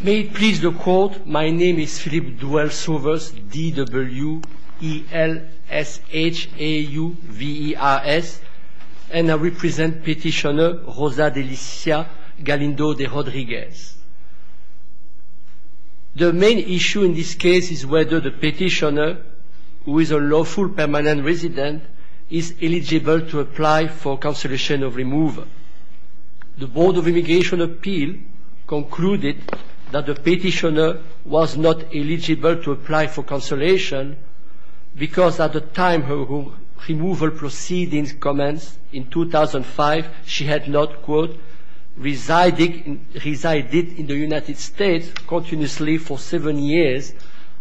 May it please the Court, my name is Philippe Duelsauvers, D-W-E-L-S-H-A-U-V-E-R-S, and I represent Petitioner Rosa Delicia Galindo De Rodriguez. The main issue in this case is whether the petitioner, who is a lawful permanent resident, is eligible to apply for cancellation of removal. The Board of Immigration Appeal concluded that the petitioner was not eligible to apply for cancellation because at the time her removal proceedings commenced in 2005, she had not, quote, resided in the United States continuously for seven years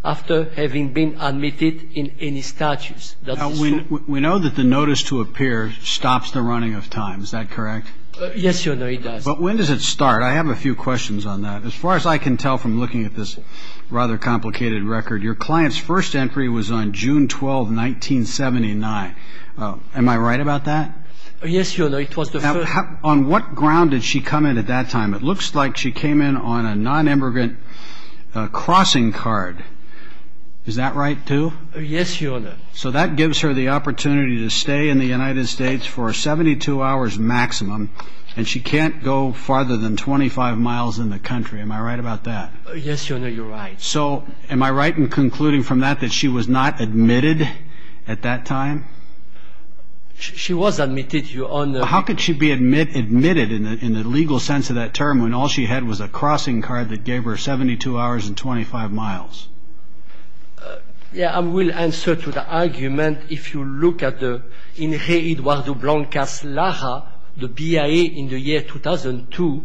after having been admitted in any statutes. We know that the notice to appear stops the running of time, is that correct? Yes, Your Honor, it does. But when does it start? I have a few questions on that. As far as I can tell from looking at this rather complicated record, your client's first entry was on June 12, 1979. Am I right about that? Yes, Your Honor, it was the first. On what ground did she come in at that time? It looks like she came in on a non-immigrant crossing card. Is that right, too? Yes, Your Honor. So that gives her the opportunity to stay in the United States for 72 hours maximum, and she can't go farther than 25 miles in the country. Am I right about that? Yes, Your Honor, you're right. So am I right in concluding from that that she was not admitted at that time? She was admitted, Your Honor. How could she be admitted in the legal sense of that term when all she had was a crossing card that gave her 72 hours and 25 miles? Yes, I will answer to the argument. If you look at the Ray Eduardo Blancas Lara, the BIA in the year 2002,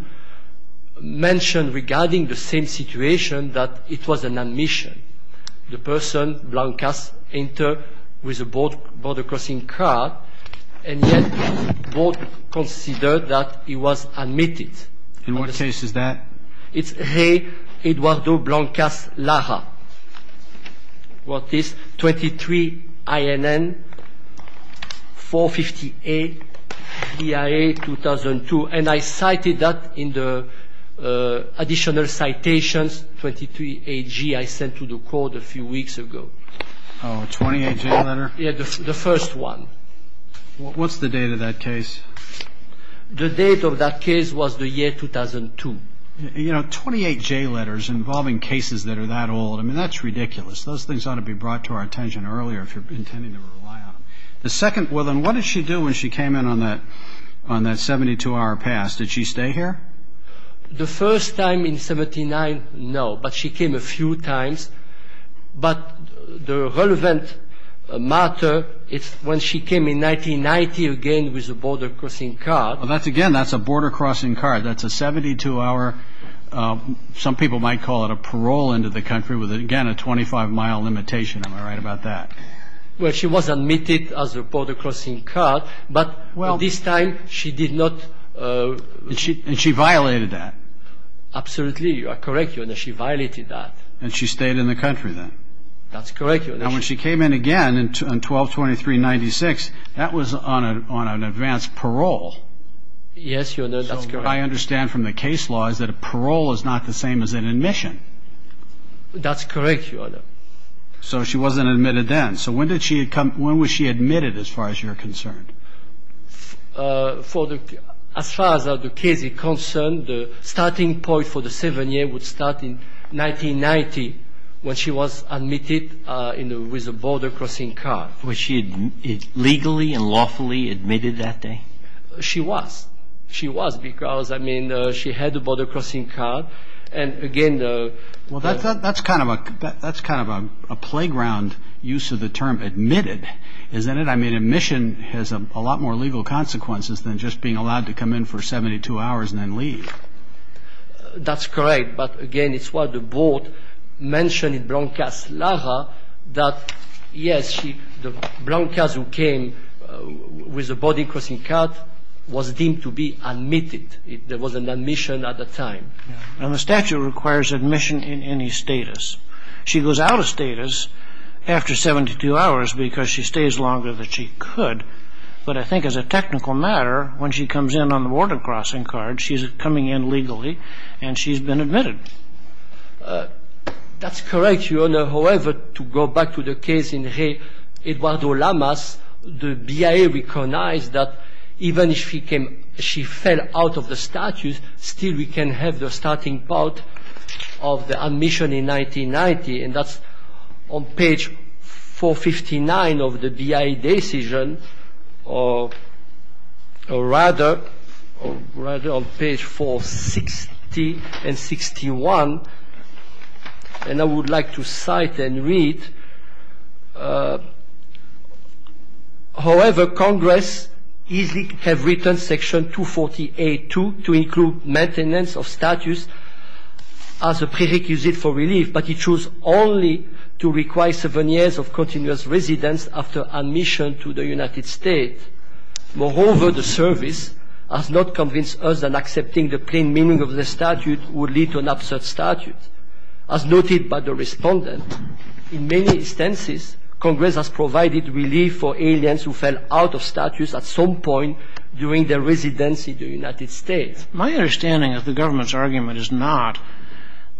mentioned regarding the same situation that it was an admission. The person, Blancas, entered with a border crossing card, and yet both considered that he was admitted. In what case is that? It's Ray Eduardo Blancas Lara. What is 23 INN 450A, BIA 2002. And I cited that in the additional citations, 23 AG, I sent to the court a few weeks ago. Oh, 28 AG letter? Yes, the first one. What's the date of that case? The date of that case was the year 2002. You know, 28 J letters involving cases that are that old, I mean, that's ridiculous. Those things ought to be brought to our attention earlier if you're intending to rely on them. The second, well, then what did she do when she came in on that 72-hour pass? Did she stay here? The first time in 79, no, but she came a few times. But the relevant matter is when she came in 1990 again with a border crossing card. Well, again, that's a border crossing card. That's a 72-hour, some people might call it a parole, into the country with, again, a 25-mile limitation. Am I right about that? Well, she was admitted as a border crossing card, but this time she did not. And she violated that? Absolutely, you are correct. She violated that. And she stayed in the country then? That's correct. Now, when she came in again on 12-23-96, that was on an advanced parole. Yes, Your Honor, that's correct. So what I understand from the case law is that a parole is not the same as an admission. That's correct, Your Honor. So she wasn't admitted then. So when was she admitted as far as you're concerned? As far as the case is concerned, the starting point for the 7-year would start in 1990 when she was admitted with a border crossing card. Was she legally and lawfully admitted that day? She was. She was because, I mean, she had a border crossing card. And, again, the – Well, that's kind of a playground use of the term admitted, isn't it? I mean, admission has a lot more legal consequences than just being allowed to come in for 72 hours and then leave. That's correct. But, again, it's what the board mentioned in Blancas Lara that, yes, the Blancas who came with a border crossing card was deemed to be admitted. There was an admission at the time. Now, the statute requires admission in any status. She goes out of status after 72 hours because she stays longer than she could. But I think as a technical matter, when she comes in on the border crossing card, she's coming in legally, and she's been admitted. That's correct, Your Honor. However, to go back to the case in J. Eduardo Lamas, the BIA recognized that even if she fell out of the status, still we can have the starting point of the admission in 1990. And that's on page 459 of the BIA decision. Or rather, on page 460 and 61, and I would like to cite and read, however, Congress easily have written section 248-2 to include maintenance of status as a prerequisite for relief, but it chose only to require seven years of continuous residence after admission to the United States. Moreover, the service has not convinced us that accepting the plain meaning of the statute would lead to an absurd statute. As noted by the respondent, in many instances, Congress has provided relief for aliens who fell out of status at some point during their residency in the United States. My understanding of the government's argument is not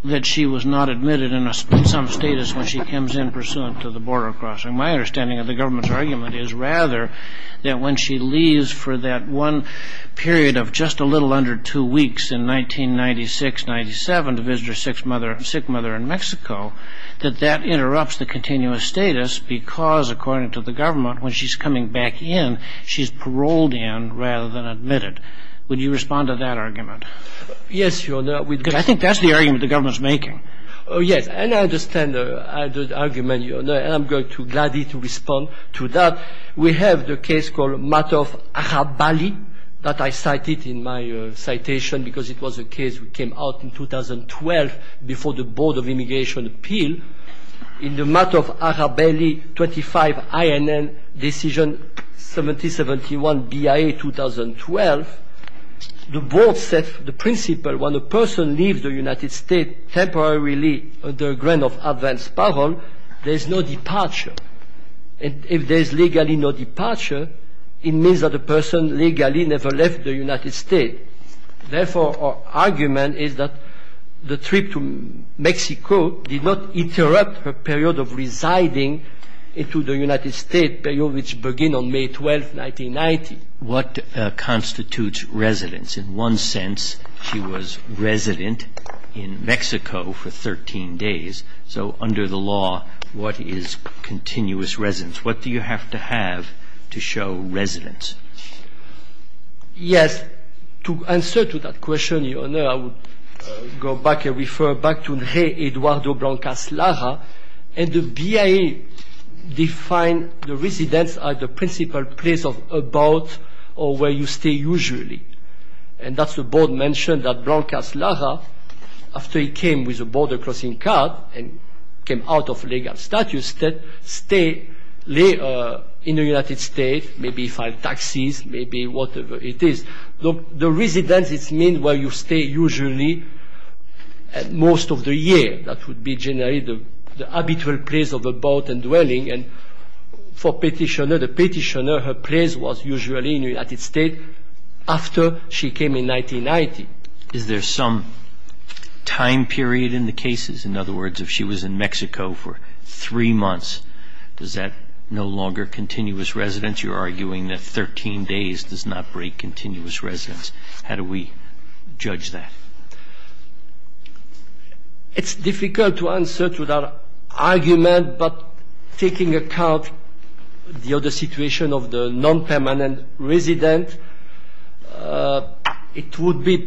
that she was not admitted in some status when she comes in pursuant to the border crossing. My understanding of the government's argument is rather that when she leaves for that one period of just a little under two weeks in 1996-97 to visit her sick mother in Mexico, that that interrupts the continuous status because, according to the government, when she's coming back in, she's paroled in rather than admitted. Would you respond to that argument? Yes, Your Honor. Because I think that's the argument the government's making. Oh, yes. And I understand the argument, Your Honor. And I'm going to gladly respond to that. We have the case called Matter of Arabeli that I cited in my citation because it was a case that came out in 2012 before the Board of Immigration Appeal. In the Matter of Arabeli 25 INN Decision 7071 BIA 2012, the Board set the principle when a person leaves the United States temporarily under a grant of advance parole, there is no departure. And if there is legally no departure, it means that the person legally never left the United States. Therefore, our argument is that the trip to Mexico did not interrupt her period of residing into the United States, a period which began on May 12, 1990. What constitutes residence? In one sense, she was resident in Mexico for 13 days. So under the law, what is continuous residence? What do you have to have to show residence? Yes. To answer to that question, Your Honor, I would go back and refer back to Ray Eduardo Blancas Lara. And the BIA defined the residence as the principal place of about or where you stay usually. And that's the Board mentioned that Blancas Lara, after he came with a border crossing card and came out of legal status, stayed in the United States, maybe filed taxes, maybe whatever it is. The residence, it means where you stay usually most of the year. That would be generally the habitual place of about and dwelling. And for petitioner, the petitioner, her place was usually in the United States after she came in 1990. Is there some time period in the cases? In other words, if she was in Mexico for three months, does that no longer continuous residence? You're arguing that 13 days does not break continuous residence. How do we judge that? It's difficult to answer to that argument. But taking account the other situation of the non-permanent resident, it would be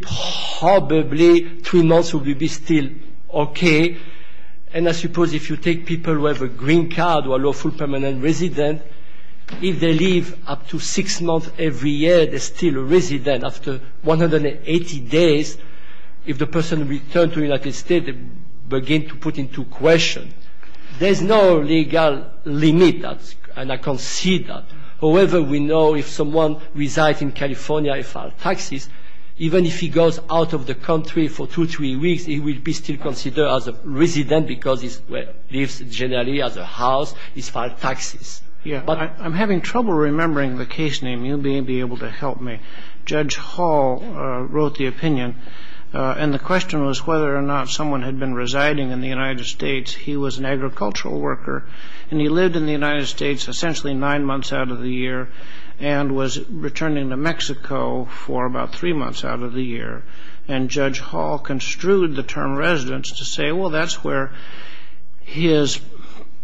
probably three months would be still okay. And I suppose if you take people who have a green card or a lawful permanent resident, if they live up to six months every year, they're still a resident after 180 days, if the person returns to the United States, they begin to put into question. There's no legal limit, and I can see that. However, we know if someone resides in California and filed taxes, even if he goes out of the country for two, three weeks, he will be still considered as a resident because he lives generally as a house. He's filed taxes. I'm having trouble remembering the case name. You may be able to help me. Judge Hall wrote the opinion, and the question was whether or not someone had been residing in the United States. He was an agricultural worker, and he lived in the United States essentially nine months out of the year and was returning to Mexico for about three months out of the year. And Judge Hall construed the term residence to say, well, that's where his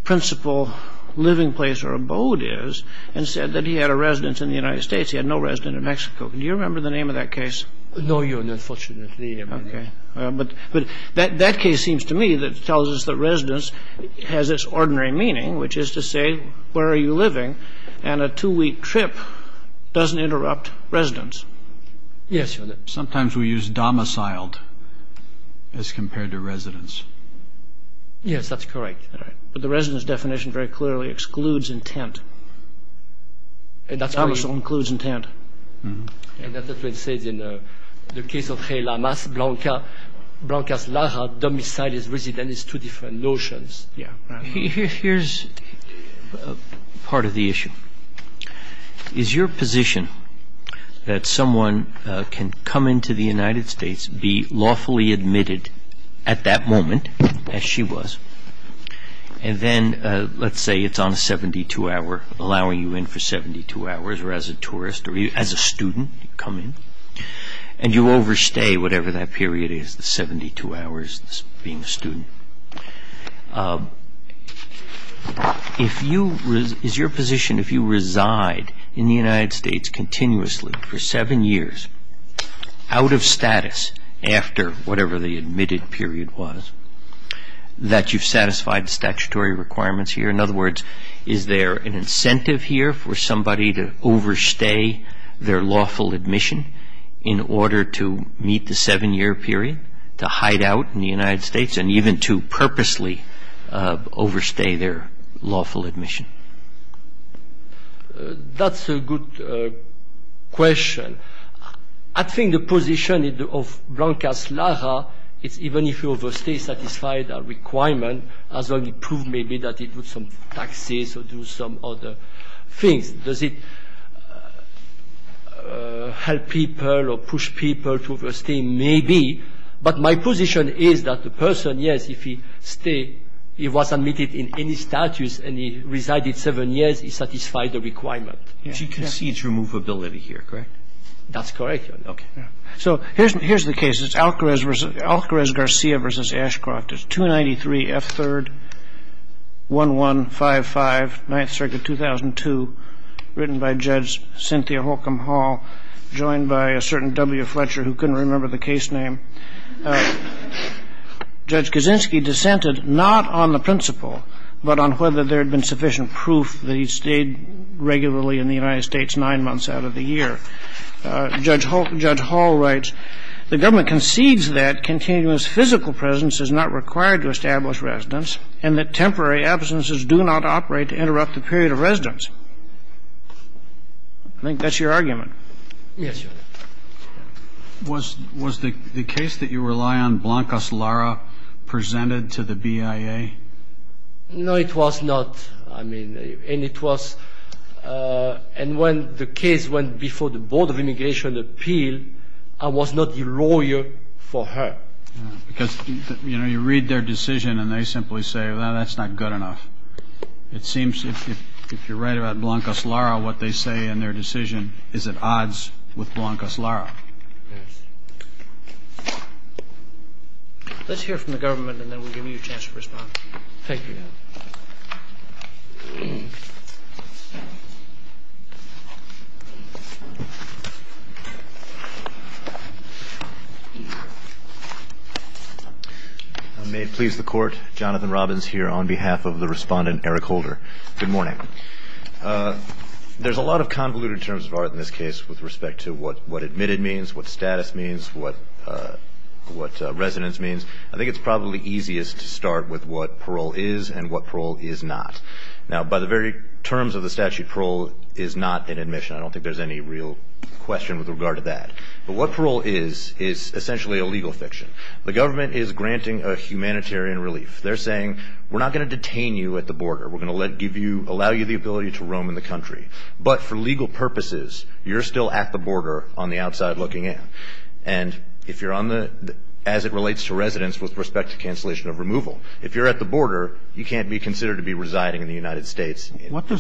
principal living place or abode is, and said that he had a residence in the United States. He had no residence in Mexico. Do you remember the name of that case? No, Your Honor. Unfortunately, I don't. Okay. But that case seems to me that tells us that residence has its ordinary meaning, which is to say where are you living, and a two-week trip doesn't interrupt residence. Yes, Your Honor. Sometimes we use domiciled as compared to residence. Yes, that's correct. All right. But the residence definition very clearly excludes intent. Domiciled includes intent. And that's what it says in the case of J. Lamas Blanca. Blanca's lara domiciled as residence is two different notions. Yes. Here's part of the issue. Is your position that someone can come into the United States, be lawfully admitted at that moment, as she was, and then, let's say, it's on a 72-hour, allowing you in for 72 hours, or as a tourist or as a student, you come in, and you overstay whatever that period is, the 72 hours being a student. Is your position, if you reside in the United States continuously for seven years, out of status after whatever the admitted period was, that you've satisfied the statutory requirements here? In other words, is there an incentive here for somebody to overstay their lawful admission in order to meet the seven-year period, to hide out in the United States, and even to purposely overstay their lawful admission? That's a good question. I think the position of Blanca's lara is even if you overstay, satisfy the requirement, as long as you prove maybe that you do some taxes or do some other things. Does it help people or push people to overstay? Maybe. But my position is that the person, yes, if he stayed, he was admitted in any status, and he resided seven years, he satisfied the requirement. And she concedes removability here, correct? That's correct. Okay. So here's the case. It's Alcarez-Garcia v. Ashcroft. It's 293 F. 3rd, 1155, 9th Circuit, 2002, written by Judge Cynthia Holcomb Hall, joined by a certain W. Fletcher who couldn't remember the case name. Judge Kaczynski dissented not on the principle, but on whether there had been sufficient proof that he stayed regularly in the United States nine months out of the year. Judge Hall writes, I think that's your argument. Yes, Your Honor. Was the case that you rely on Blanca's lara presented to the BIA? No, it was not. I mean, and it was, and when the case went before the Board of Immigration Appeal, I was not a lawyer for her. Because, you know, you read their decision and they simply say, well, that's not good enough. It seems if you're right about Blanca's lara, what they say in their decision is at odds with Blanca's lara. Yes. Let's hear from the government and then we'll give you a chance to respond. Thank you, Your Honor. May it please the Court, Jonathan Robbins here on behalf of the respondent Eric Holder. Good morning. There's a lot of convoluted terms of art in this case with respect to what admitted means, what status means, what residence means. I think it's probably easiest to start with what parole is and what parole is not. Now, by the very terms of the statute, parole is not an admission. I don't think there's any real question with regard to that. But what parole is is essentially a legal fiction. The government is granting a humanitarian relief. They're saying we're not going to detain you at the border. We're going to allow you the ability to roam in the country. But for legal purposes, you're still at the border on the outside looking in. And as it relates to residence with respect to cancellation of removal, if you're at the border, you can't be considered to be residing in the United States. What do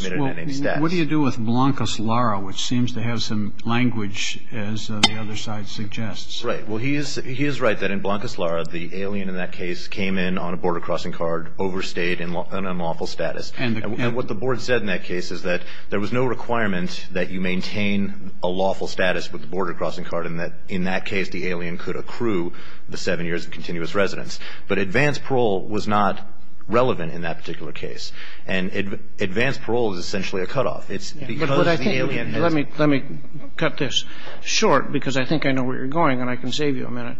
you do with Blanca's lara, which seems to have some language, as the other side suggests? Right. Well, he is right that in Blanca's lara, the alien in that case came in on a border crossing card, overstayed in unlawful status. And what the board said in that case is that there was no requirement that you maintain a lawful status with the border crossing card and that in that case, the alien could accrue the seven years of continuous residence. But advanced parole was not relevant in that particular case. And advanced parole is essentially a cutoff. It's because the alien has been. Let me cut this short because I think I know where you're going and I can save you a minute.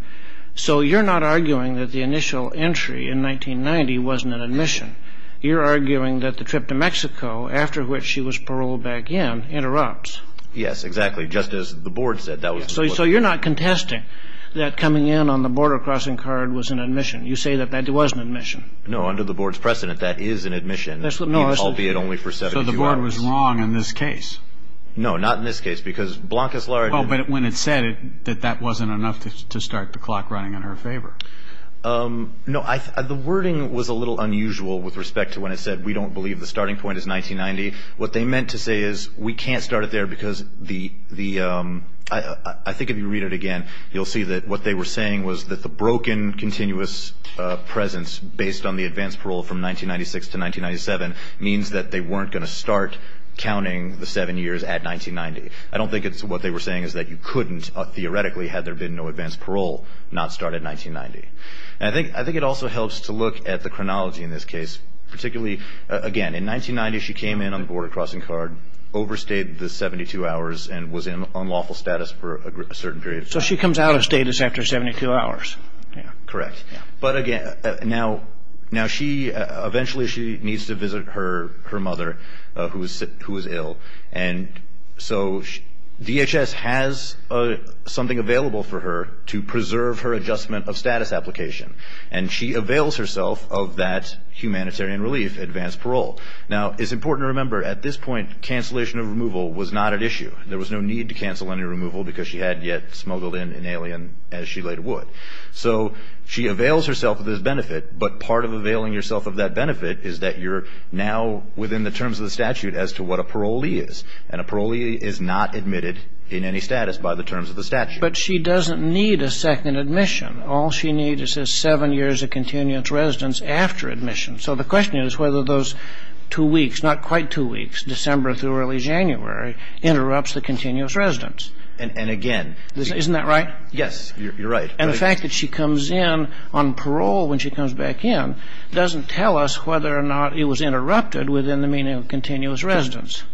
So you're not arguing that the initial entry in 1990 wasn't an admission. You're arguing that the trip to Mexico, after which she was paroled back in, interrupts. Yes, exactly. Just as the board said. So you're not contesting that coming in on the border crossing card was an admission. You say that that was an admission. No, under the board's precedent, that is an admission, albeit only for 72 hours. So the board was wrong in this case. No, not in this case because Blanca's lara. But when it said that that wasn't enough to start the clock running in her favor. No, the wording was a little unusual with respect to when it said we don't believe the starting point is 1990. What they meant to say is we can't start it there because the I think if you read it again, you'll see that what they were saying was that the broken continuous presence based on the advanced parole from 1996 to 1997 means that they weren't going to start counting the seven years at 1990. I don't think it's what they were saying is that you couldn't, theoretically, had there been no advanced parole, not start at 1990. I think it also helps to look at the chronology in this case. Particularly, again, in 1990 she came in on the border crossing card, overstayed the 72 hours, and was in unlawful status for a certain period of time. So she comes out of status after 72 hours. Correct. But again, now she eventually needs to visit her mother who is ill. And so DHS has something available for her to preserve her adjustment of status application. And she avails herself of that humanitarian relief, advanced parole. Now, it's important to remember at this point cancellation of removal was not at issue. There was no need to cancel any removal because she had yet smuggled in an alien as she later would. So she avails herself of this benefit. But part of availing yourself of that benefit is that you're now within the terms of the statute as to what a parolee is. And a parolee is not admitted in any status by the terms of the statute. But she doesn't need a second admission. All she needs is seven years of continuous residence after admission. So the question is whether those two weeks, not quite two weeks, December through early January, interrupts the continuous residence. And again. Isn't that right? Yes, you're right. And the fact that she comes in on parole when she comes back in doesn't tell us whether or not it was interrupted within the meaning of continuous residence.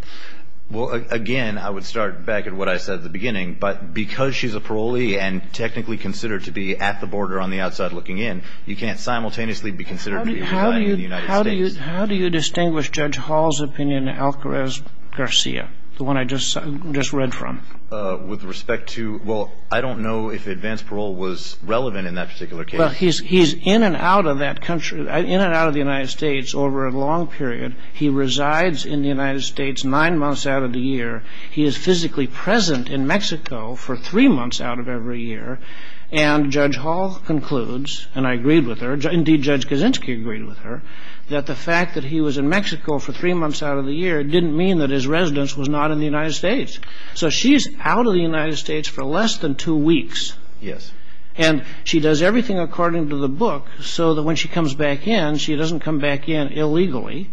Well, again, I would start back at what I said at the beginning. But because she's a parolee and technically considered to be at the border on the outside looking in, you can't simultaneously be considered to be applying in the United States. How do you distinguish Judge Hall's opinion and Alcarez-Garcia, the one I just read from? With respect to, well, I don't know if advanced parole was relevant in that particular case. Well, he's in and out of that country, in and out of the United States over a long period. He resides in the United States nine months out of the year. He is physically present in Mexico for three months out of every year. And Judge Hall concludes, and I agreed with her, indeed, Judge Kaczynski agreed with her, that the fact that he was in Mexico for three months out of the year didn't mean that his residence was not in the United States. So she's out of the United States for less than two weeks. Yes. And she does everything according to the book so that when she comes back in, she doesn't come back in illegally.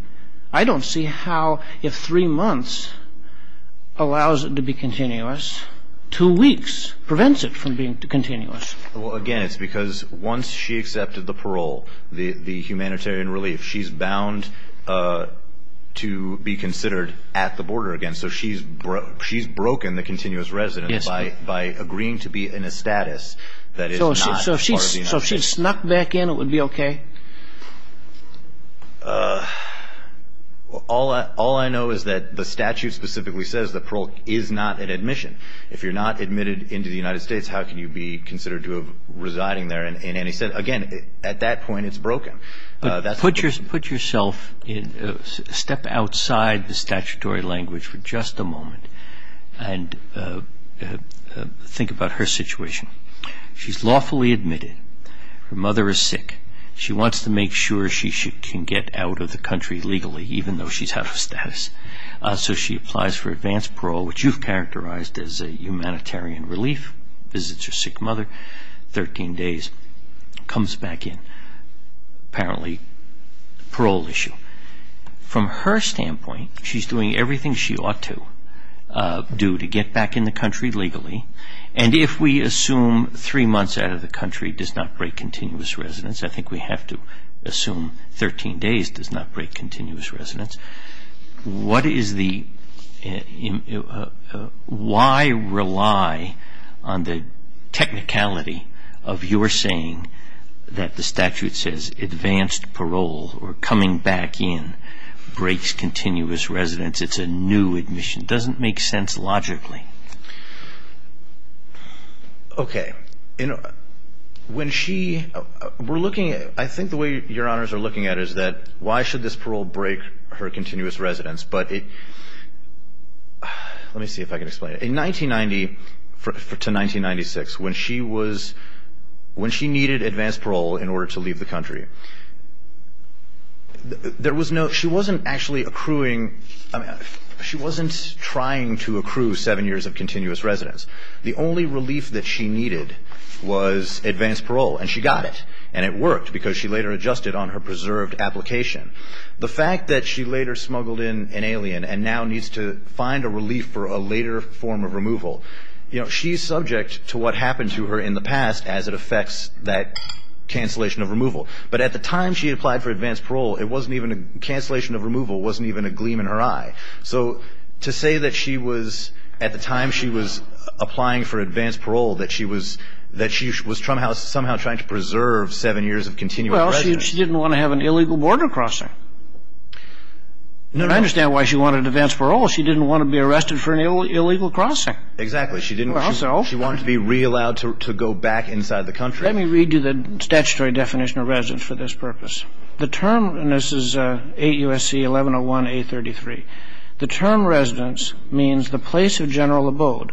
I don't see how if three months allows it to be continuous, two weeks prevents it from being continuous. Well, again, it's because once she accepted the parole, the humanitarian relief, she's bound to be considered at the border again. So she's broken the continuous residence by agreeing to be in a status that is not part of the United States. So if she snuck back in, it would be okay? All I know is that the statute specifically says the parole is not an admission. If you're not admitted into the United States, how can you be considered to have residing there in any sense? Again, at that point, it's broken. Put yourself in a step outside the statutory language for just a moment and think about her situation. She's lawfully admitted. Her mother is sick. She wants to make sure she can get out of the country legally, even though she's out of status. So she applies for advanced parole, which you've characterized as a humanitarian relief, visits her sick mother, 13 days, comes back in, apparently parole issue. From her standpoint, she's doing everything she ought to do to get back in the country legally, and if we assume three months out of the country does not break continuous residence, I think we have to assume 13 days does not break continuous residence. Why rely on the technicality of your saying that the statute says advanced parole or coming back in breaks continuous residence? It's a new admission. It doesn't make sense logically. Okay. When she we're looking at it, I think the way Your Honors are looking at it is that why should this parole break her status? But let me see if I can explain it. In 1990 to 1996, when she needed advanced parole in order to leave the country, she wasn't actually accruing, she wasn't trying to accrue seven years of continuous residence. The only relief that she needed was advanced parole, and she got it, and it worked because she later adjusted on her preserved application. The fact that she later smuggled in an alien and now needs to find a relief for a later form of removal, she's subject to what happened to her in the past as it affects that cancellation of removal. But at the time she applied for advanced parole, cancellation of removal wasn't even a gleam in her eye. So to say that she was, at the time she was applying for advanced parole, that she was somehow trying to preserve seven years of continuous residence. She didn't want to have an illegal border crossing. I understand why she wanted advanced parole. She didn't want to be arrested for an illegal crossing. Exactly. Well, so? She wanted to be re-allowed to go back inside the country. Let me read you the statutory definition of residence for this purpose. The term, and this is 8 U.S.C. 1101 A.33. The term residence means the place of general abode.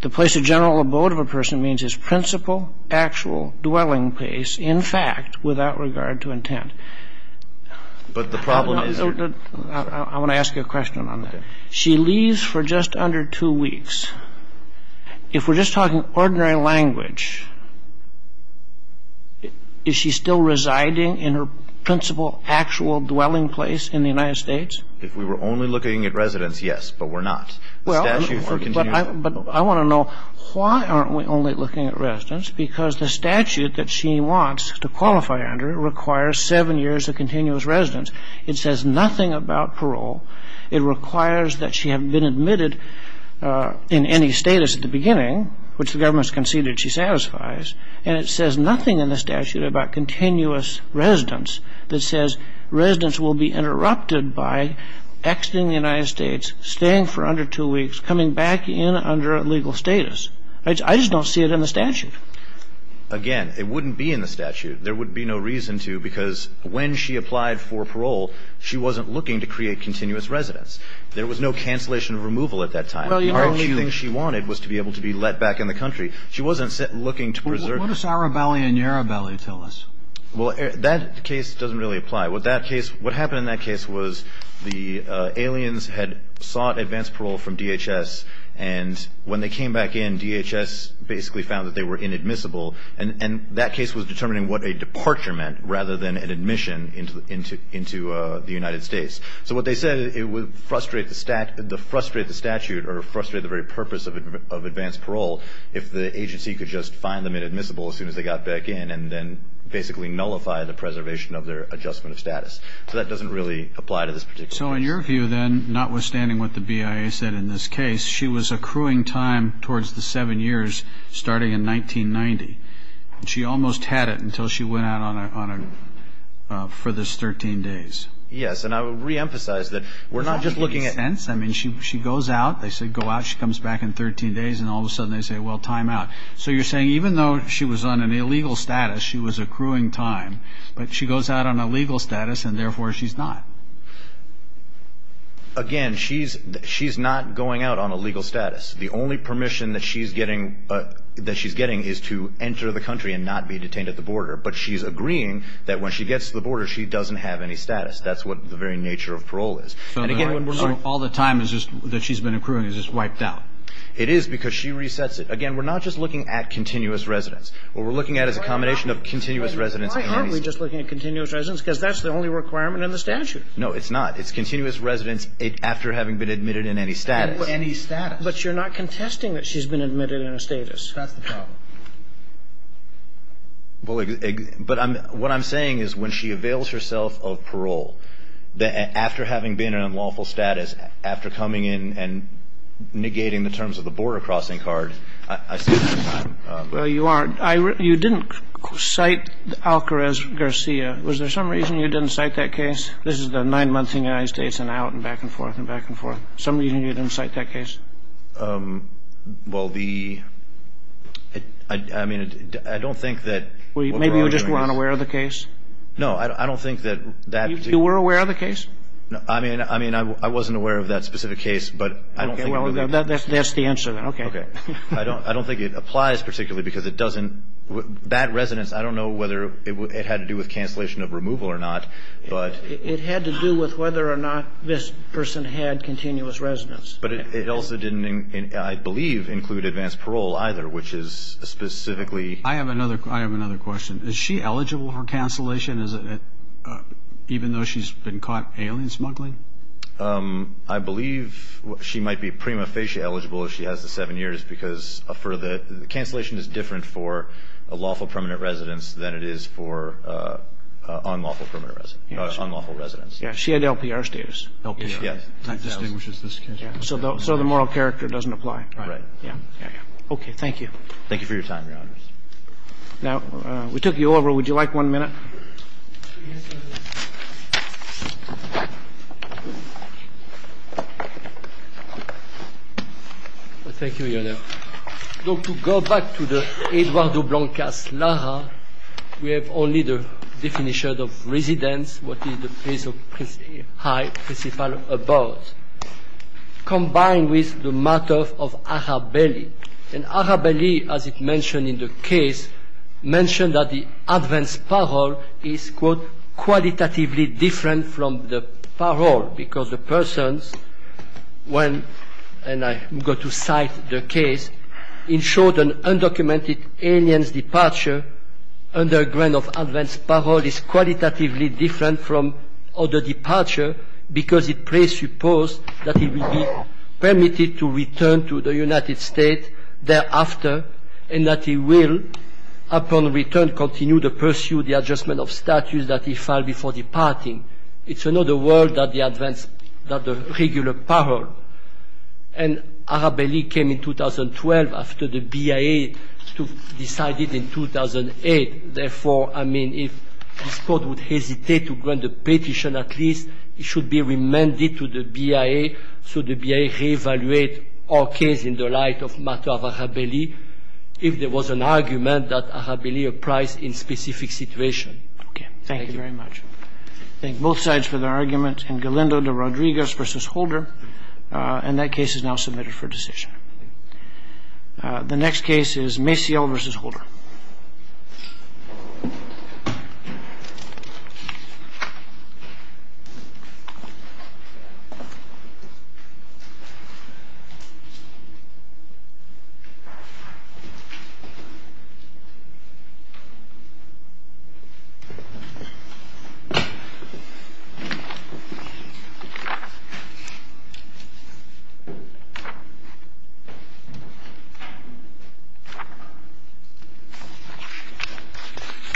The place of general abode of a person means his principal actual dwelling place, in fact, without regard to intent. But the problem is? I want to ask you a question on that. She leaves for just under two weeks. If we're just talking ordinary language, is she still residing in her principal actual dwelling place in the United States? If we were only looking at residence, yes, but we're not. But I want to know why aren't we only looking at residence? Because the statute that she wants to qualify under requires seven years of continuous residence. It says nothing about parole. It requires that she have been admitted in any status at the beginning, which the government has conceded she satisfies. And it says nothing in the statute about continuous residence that says residence will be interrupted by exiting the United States, staying for under two weeks, coming back in under legal status. I just don't see it in the statute. Again, it wouldn't be in the statute. There would be no reason to because when she applied for parole, she wasn't looking to create continuous residence. There was no cancellation of removal at that time. The only thing she wanted was to be able to be let back in the country. She wasn't looking to preserve. What does Arabelli and Yarabelli tell us? Well, that case doesn't really apply. What happened in that case was the aliens had sought advance parole from DHS, and when they came back in, DHS basically found that they were inadmissible. And that case was determining what a departure meant rather than an admission into the United States. So what they said, it would frustrate the statute or frustrate the very purpose of advance parole if the agency could just find them inadmissible as soon as they got back in and then basically nullify the preservation of their adjustment of status. So that doesn't really apply to this particular case. So in your view, then, notwithstanding what the BIA said in this case, she was accruing time towards the seven years starting in 1990. She almost had it until she went out for this 13 days. Yes, and I would reemphasize that we're not just looking at— Does that make any sense? I mean, she goes out. They say go out. She comes back in 13 days, and all of a sudden they say, well, time out. So you're saying even though she was on an illegal status, she was accruing time, but she goes out on a legal status, and therefore she's not. Again, she's not going out on a legal status. The only permission that she's getting is to enter the country and not be detained at the border. But she's agreeing that when she gets to the border, she doesn't have any status. That's what the very nature of parole is. And again, all the time that she's been accruing is just wiped out. It is because she resets it. Again, we're not just looking at continuous residence. What we're looking at is a combination of continuous residence and any status. And why aren't we just looking at continuous residence? Because that's the only requirement in the statute. No, it's not. It's continuous residence after having been admitted in any status. Any status. But you're not contesting that she's been admitted in a status. That's the problem. But what I'm saying is when she avails herself of parole, after having been in unlawful status, after coming in and negating the terms of the border crossing card, I see that as a problem. Well, you aren't. You didn't cite Alcarez-Garcia. Was there some reason you didn't cite that case? This is the nine months in the United States and out and back and forth and back and forth. Some reason you didn't cite that case? Well, I mean, I don't think that. Maybe you just weren't aware of the case. No, I don't think that. You were aware of the case? I mean, I wasn't aware of that specific case, but I don't think. Well, that's the answer then. Okay. I don't think it applies particularly because it doesn't. That residence, I don't know whether it had to do with cancellation of removal or not, but. It had to do with whether or not this person had continuous residence. But it also didn't, I believe, include advanced parole either, which is specifically. I have another question. Is she eligible for cancellation even though she's been caught alien smuggling? I believe she might be prima facie eligible if she has the seven years because for the... Cancellation is different for a lawful permanent residence than it is for unlawful residence. She had LPR status. LPR, yes. That distinguishes this case. So the moral character doesn't apply. Right. Okay. Thank you. Thank you for your time, Your Honors. Now, we took you over. Would you like one minute? Thank you, Your Honor. To go back to the Edouard de Blancas-Lara, we have only the definition of residence, which is the place of high principle above, combined with the matter of Arabelli. And Arabelli, as it's mentioned in the case, mentioned that the advanced parole is, quote, qualitatively different from the parole because the person, when... And I'm going to cite the case. In short, an undocumented alien's departure under a grant of advanced parole is qualitatively different from other departure because it presupposes that he will be permitted to return to the United States thereafter and that he will, upon return, continue to pursue the adjustment of status that he filed before departing. It's another world than the regular parole. And Arabelli came in 2012 after the BIA decided in 2008. Therefore, I mean, if this Court would hesitate to grant a petition at least, it should be remanded to the BIA so the BIA re-evaluate our case in the light of matter of Arabelli if there was an argument that Arabelli applies in specific situation. Okay. Thank you very much. Thank you. Thank both sides for their argument. And Galindo de Rodriguez versus Holder. And that case is now submitted for decision. The next case is Maciel versus Holder. Thank you.